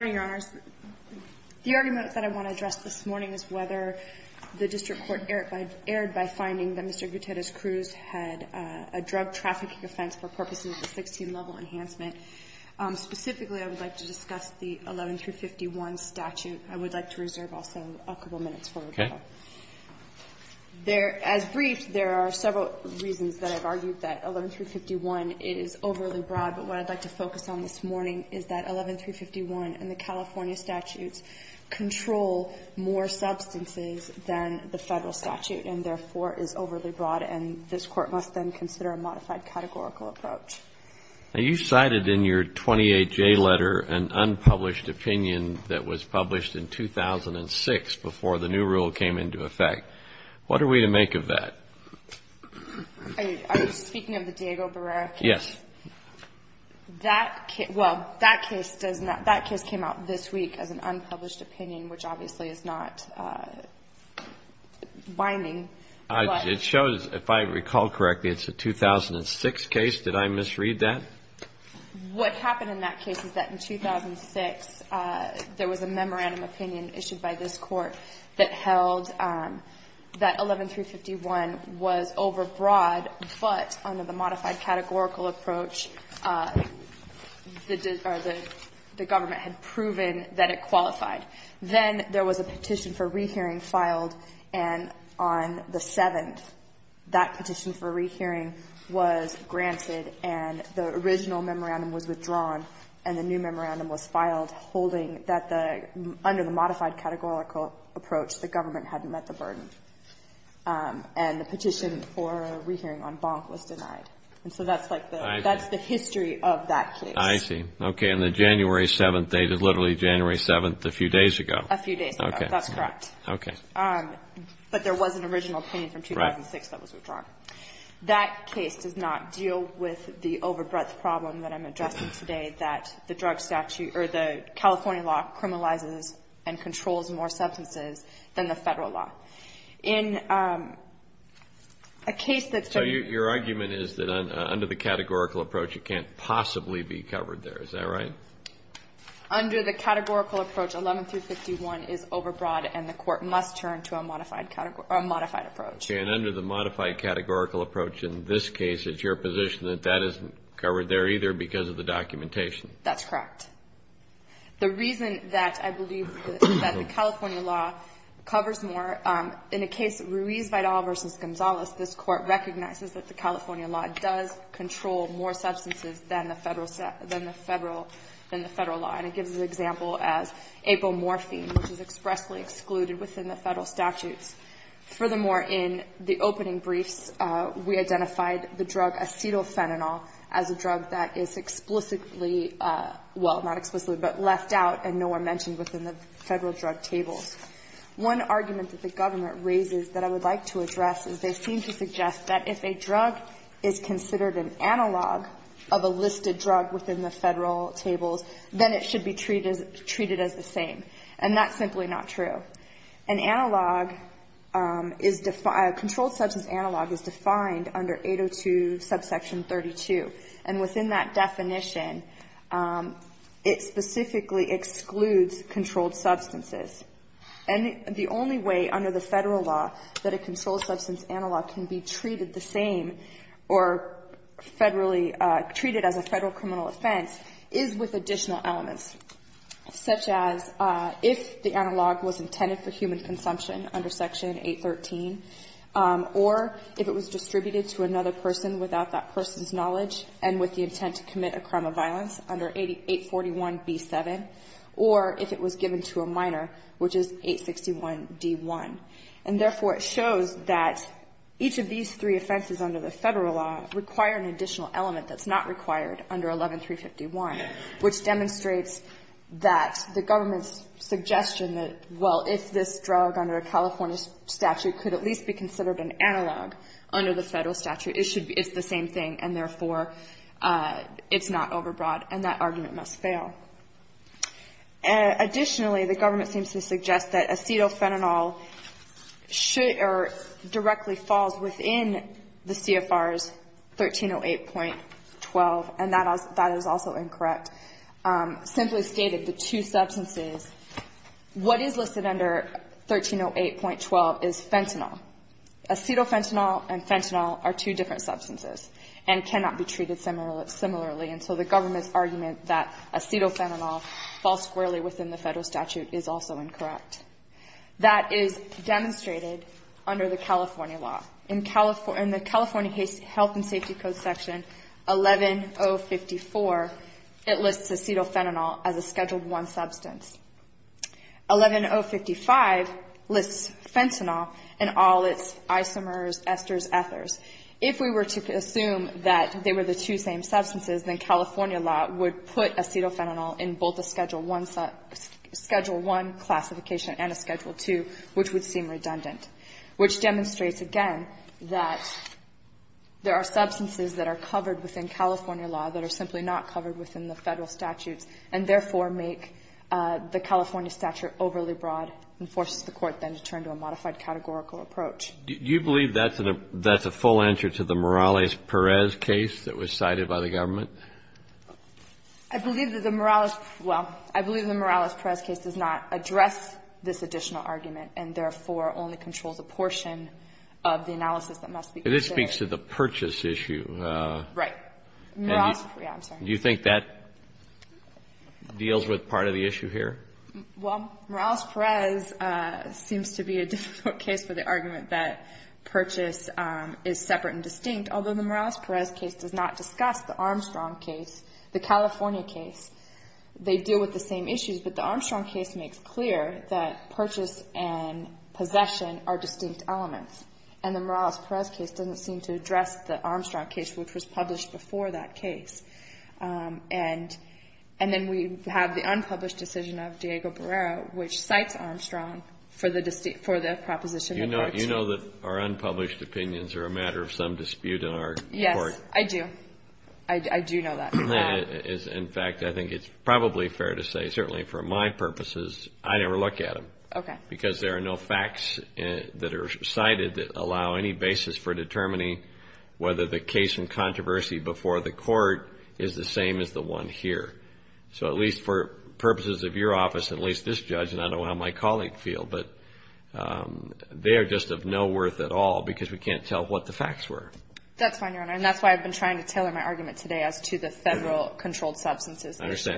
The argument that I want to address this morning is whether the district court erred by finding that Mr. Guiterrez-Cruz had a drug trafficking offense for purposes of a 16-level enhancement. Specifically, I would like to discuss the 11-351 statute. I would like to reserve also a couple of minutes for rebuttal. Okay. As briefed, there are several reasons that I've argued that 11-351 is overly broad, but what I'd like to focus on this morning is that 11-351 and the California statutes control more substances than the Federal statute and, therefore, is overly broad, and this Court must then consider a modified categorical approach. Now, you cited in your 28-J letter an unpublished opinion that was published in 2006 before the new rule came into effect. What are we to make of that? Are you speaking of the Diego Barrera case? Yes. Well, that case does not – that case came out this week as an unpublished opinion, which obviously is not binding. It shows – if I recall correctly, it's a 2006 case. Did I misread that? What happened in that case is that in 2006, there was a memorandum opinion issued by this Court that held that 11-351 was overbroad, but under the modified categorical approach, the government had proven that it qualified. Then there was a petition for rehearing filed, and on the 7th, that petition for rehearing was granted and the original memorandum was withdrawn and the new memorandum was filed holding that the – under the modified categorical approach, the government hadn't met the burden. And the petition for rehearing on Bonk was denied. And so that's like the – that's the history of that case. I see. Okay. And the January 7th, they did literally January 7th a few days ago. A few days ago. Okay. That's correct. Okay. But there was an original opinion from 2006 that was withdrawn. That case does not deal with the overbreadth problem that I'm addressing today, that the drug statute – or the California law criminalizes and controls more substances than the Federal law. In a case that's been – So your argument is that under the categorical approach, it can't possibly be covered there. Is that right? Under the categorical approach, 11-351 is overbroad and the Court must turn to a modified – a modified approach. And under the modified categorical approach in this case, it's your position that that isn't covered there either because of the documentation. That's correct. The reason that I believe that the California law covers more – in the case Ruiz-Vidal v. Gonzales, this Court recognizes that the California law does control more substances than the Federal – than the Federal – than the Federal law. And it gives an example as apomorphine, which is expressly excluded within the Federal statutes. Furthermore, in the opening briefs, we identified the drug acetylphenanol as a drug that is explicitly – well, not explicitly, but left out and no one mentioned within the Federal drug tables. One argument that the government raises that I would like to address is they seem to suggest that if a drug is considered an analog of a listed drug within the Federal tables, then it should be treated as the same. And that's simply not true. An analog is – a controlled substance analog is defined under 802 subsection 32. And within that definition, it specifically excludes controlled substances. And the only way under the Federal law that a controlled substance analog can be treated the same or Federally – treated as a Federal criminal offense is with additional elements, such as if the analog was intended for human consumption under section 813, or if it was distributed to another person without that person's knowledge and with the intent to commit a crime of violence under 841b7, or if it was given to a minor, which is 861d1. And therefore, it shows that each of these three offenses under the Federal law require an additional element that's not required under 11351, which demonstrates that the government's suggestion that, well, if this drug under a California statute could at least be considered an analog under the Federal statute, it should be – it's the same thing, and therefore, it's not overbroad. And that argument must fail. Additionally, the government seems to suggest that acetophenanol should – or directly falls within the CFR's 1308.12, and that is also incorrect. Simply stated, the two substances – what is listed under 1308.12 is fentanyl. Acetophenanol and fentanyl are two different substances and cannot be treated similarly. And so the government's suggestion that acetophenanol falls squarely within the Federal statute is also incorrect. That is demonstrated under the California law. In the California Health and Safety Code section 11054, it lists acetophenanol as a Schedule I substance. 11055 lists fentanyl and all its isomers, esters, ethers. If we were to assume that they were the two same substances, then California law would put acetophenanol in both a Schedule I classification and a Schedule II, which would seem redundant, which demonstrates, again, that there are substances that are covered within California law that are simply not covered within the Federal statutes and therefore make the California statute overly broad and forces the Court then to turn to a modified categorical approach. Do you believe that's a full answer to the Morales-Perez case that was cited by the government? I believe that the Morales – well, I believe the Morales-Perez case does not address this additional argument and, therefore, only controls a portion of the analysis that must be considered. And it speaks to the purchase issue. Right. Morales – yeah, I'm sorry. Do you think that deals with part of the issue here? Well, Morales-Perez seems to be a difficult case for the argument that purchase is separate and distinct, although the Morales-Perez case does not discuss the Armstrong case, the California case. They deal with the same issues, but the Armstrong case makes clear that purchase and possession are distinct elements, and the Morales-Perez case doesn't seem to address the Armstrong case, which was published before that by Judge Diego Barrera, which cites Armstrong for the proposition of purchase. Do you know that our unpublished opinions are a matter of some dispute in our court? Yes, I do. I do know that. In fact, I think it's probably fair to say, certainly for my purposes, I never look at them. Okay. Because there are no facts that are cited that allow any basis for determining whether the case in controversy before the Court is the same as the one here. So at least for purposes of your office, at least this judge, and I don't know how my colleague feel, but they are just of no worth at all because we can't tell what the facts were. That's fine, Your Honor, and that's why I've been trying to tailor my argument today as to the Federal controlled substances issue.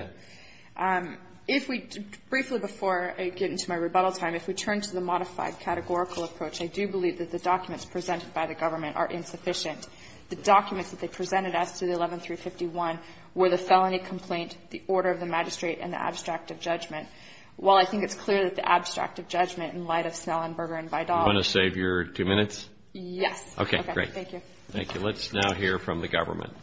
I understand. If we, briefly before I get into my rebuttal time, if we turn to the modified categorical approach, I do believe that the documents presented by the government are insufficient. The documents that they presented as to the 11351 were the felony complaint, the order of the magistrate, and the abstract of judgment. While I think it's clear that the abstract of judgment in light of Snellenberger and Vidal. You want to save your two minutes? Yes. Okay. Okay. Great. Thank you. Thank you. Let's now hear from the government.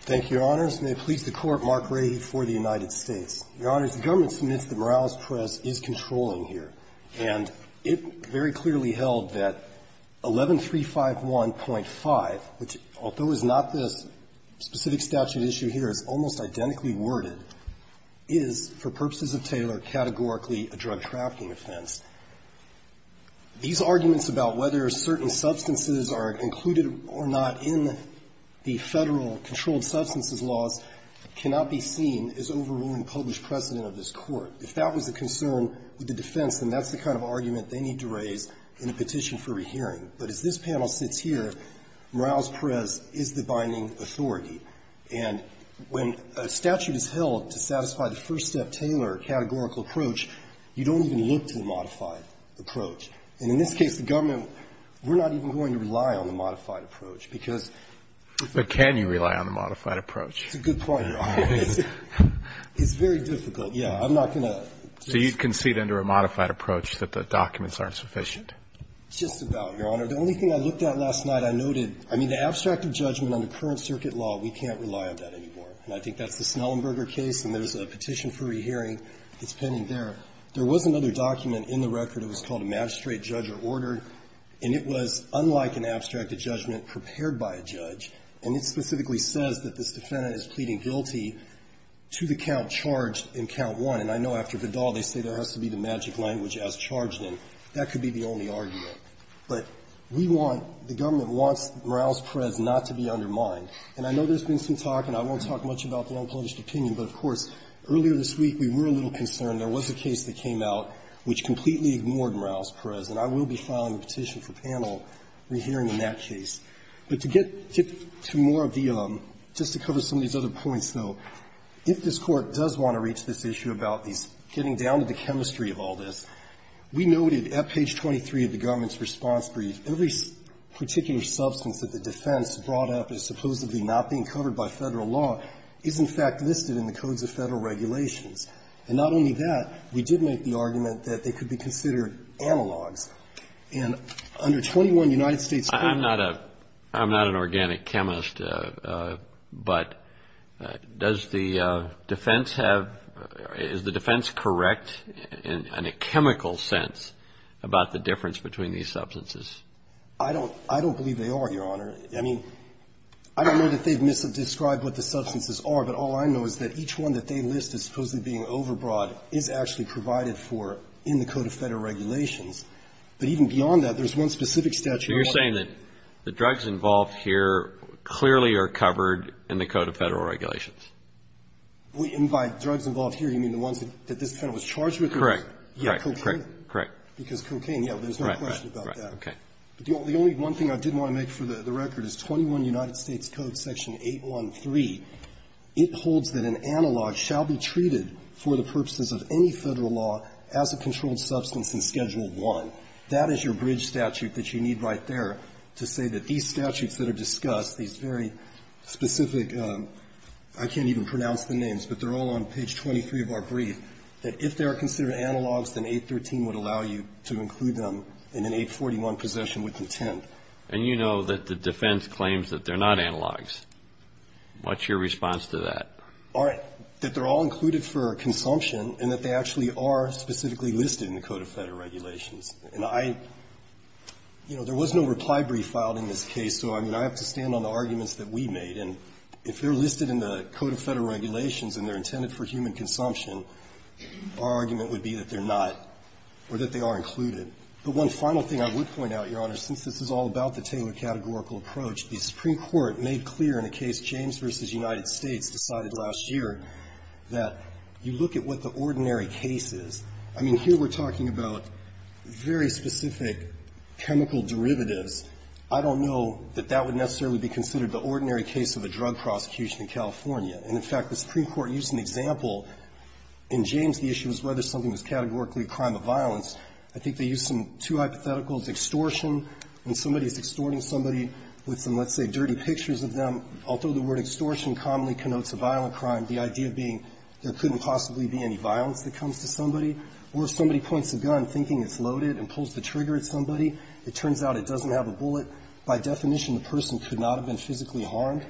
Thank you, Your Honors. May it please the Court, Mark Rady for the United States. Your Honors, the government submits the Morales Press is controlling here, and it very clearly held that 11351.5, which, although it's not this specific statute issue here, it's almost identically worded, is for purposes of Taylor categorically a drug trafficking offense. These arguments about whether certain substances are included or not in the Federal controlled substances laws cannot be seen as overruling published precedent of this in a petition for rehearing. But as this panel sits here, Morales Press is the binding authority. And when a statute is held to satisfy the first-step Taylor categorical approach, you don't even look to the modified approach. And in this case, the government, we're not even going to rely on the modified approach, because the Fed. But can you rely on the modified approach? That's a good point, Your Honors. It's very difficult. Yeah. I'm not going to. So you concede under a modified approach that the documents aren't sufficient? It's just about, Your Honor. The only thing I looked at last night, I noted, I mean, the abstract of judgment on the current circuit law, we can't rely on that anymore. And I think that's the Snellenberger case, and there's a petition for rehearing that's pending there. There was another document in the record. It was called a magistrate judge or order. And it was unlike an abstract of judgment prepared by a judge. And it specifically says that this defendant is pleading guilty to the count charged in count one. And I know after Vidal, they say there has to be the magic language as charged in. That could be the only argument. But we want, the government wants Morales-Perez not to be undermined. And I know there's been some talk, and I won't talk much about the unpublished opinion, but, of course, earlier this week we were a little concerned. There was a case that came out which completely ignored Morales-Perez. And I will be filing a petition for panel rehearing in that case. But to get to more of the, just to cover some of these other points, though, if this chemistry of all this, we noted at page 23 of the government's response brief, every particular substance that the defense brought up as supposedly not being covered by Federal law is, in fact, listed in the codes of Federal regulations. And not only that, we did make the argument that they could be considered analogs. And under 21 United States courts ---- Is the defense correct in a chemical sense about the difference between these substances? I don't believe they are, Your Honor. I mean, I don't know that they've misdescribed what the substances are. But all I know is that each one that they list as supposedly being overbroad is actually provided for in the code of Federal regulations. But even beyond that, there's one specific statute ---- So you're saying that the drugs involved here clearly are covered in the code of Federal regulations? And by drugs involved here, you mean the ones that this panel was charged with? Correct. Correct. Correct. Correct. Because cocaine, yes, there's no question about that. Right. Right. Okay. But the only one thing I did want to make for the record is 21 United States Code section 813. It holds that an analog shall be treated for the purposes of any Federal law as a controlled substance in Schedule I. That is your bridge statute that you need right there to say that these statutes that are discussed, these very specific, I can't even pronounce the names, but they're all on page 23 of our brief, that if they are considered analogs, then 813 would allow you to include them in an 841 possession with intent. And you know that the defense claims that they're not analogs. What's your response to that? All right. That they're all included for consumption and that they actually are specifically listed in the code of Federal regulations. And I, you know, there was no reply brief filed in this case, so I mean, I have to stand on the arguments that we made. And if they're listed in the code of Federal regulations and they're intended for human consumption, our argument would be that they're not or that they are included. The one final thing I would point out, Your Honor, since this is all about the Taylor categorical approach, the Supreme Court made clear in a case, James v. United States, decided last year that you look at what the ordinary case is. I mean, here we're talking about very specific chemical derivatives. I don't know that that would necessarily be considered the ordinary case of a drug prosecution in California. And, in fact, the Supreme Court used an example. In James, the issue was whether something was categorically a crime of violence. I think they used some two hypotheticals. Extortion, when somebody is extorting somebody with some, let's say, dirty pictures of them, although the word extortion commonly connotes a violent crime, the idea being there couldn't possibly be any violence that comes to somebody. Or if somebody points a gun, thinking it's loaded, and pulls the trigger at somebody, it turns out it doesn't have a bullet. By definition, the person could not have been physically harmed.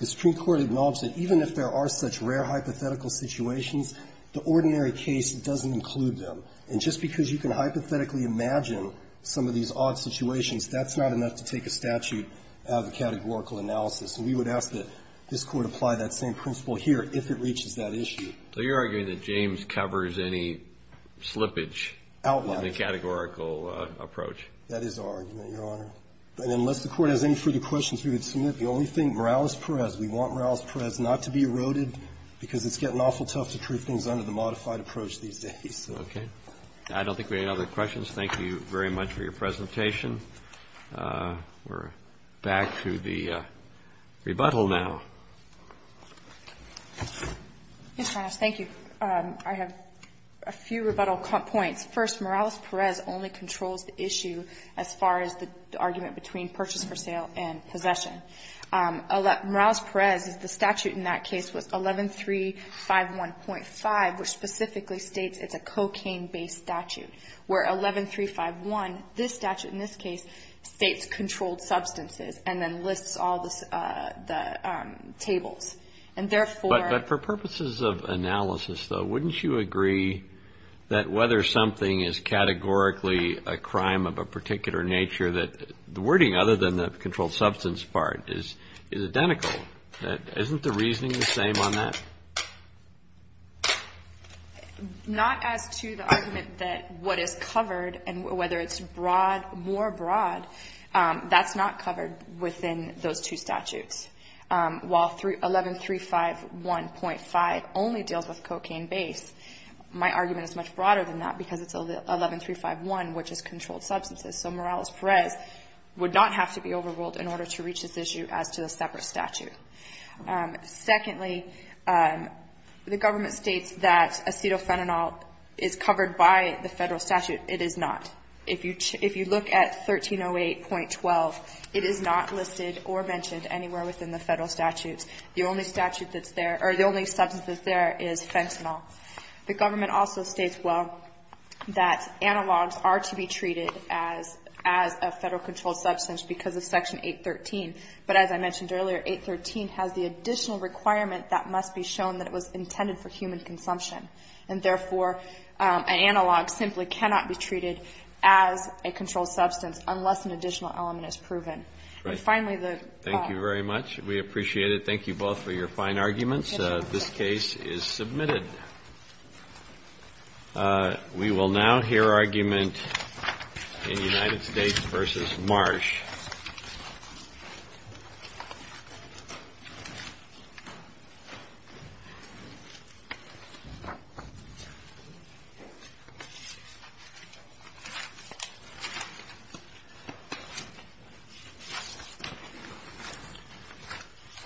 The Supreme Court acknowledged that even if there are such rare hypothetical situations, the ordinary case doesn't include them. And just because you can hypothetically imagine some of these odd situations, that's not enough to take a statute out of a categorical analysis. And we would ask that this Court apply that same principle here if it reaches that issue. So you're arguing that James covers any slippage in the categorical approach. That is our argument, Your Honor. And unless the Court has any further questions, we would submit. The only thing, Morales-Perez, we want Morales-Perez not to be eroded, because it's getting awful tough to prove things under the modified approach these days. Okay. I don't think we have any other questions. Thank you very much for your presentation. We're back to the rebuttal now. Yes, Your Honor. Thank you. I have a few rebuttal points. First, Morales-Perez only controls the issue as far as the argument between purchase for sale and possession. Morales-Perez, the statute in that case was 11351.5, which specifically states it's a cocaine-based statute. Where 11351, this statute in this case states controlled substances and then lists all the tables. And therefore But for purposes of analysis, though, wouldn't you agree that whether something is categorically a crime of a particular nature, that the wording other than the controlled substance part is identical? Isn't the reasoning the same on that? Not as to the argument that what is covered and whether it's broad, more broad, that's not covered within those two statutes. While 11351.5 only deals with cocaine-based, my argument is much broader than that because it's 11351, which is controlled substances. So Morales-Perez would not have to be overruled in order to reach this issue as to a separate statute. Secondly, the government states that acetophenanol is covered by the federal statute. It is not. If you look at 1308.12, it is not listed or mentioned anywhere within the federal statutes. The only substance that's there is fentanyl. The government also states, well, that analogs are to be treated as a federal controlled substance because of Section 813. But as I mentioned earlier, 813 has the additional requirement that must be shown that it was intended for human consumption. And therefore, an analog simply cannot be treated as a controlled substance unless an additional element is proven. And finally, the law. Thank you very much. We appreciate it. Thank you both for your fine arguments. This case is submitted. We will now hear argument in United States v. Marsh.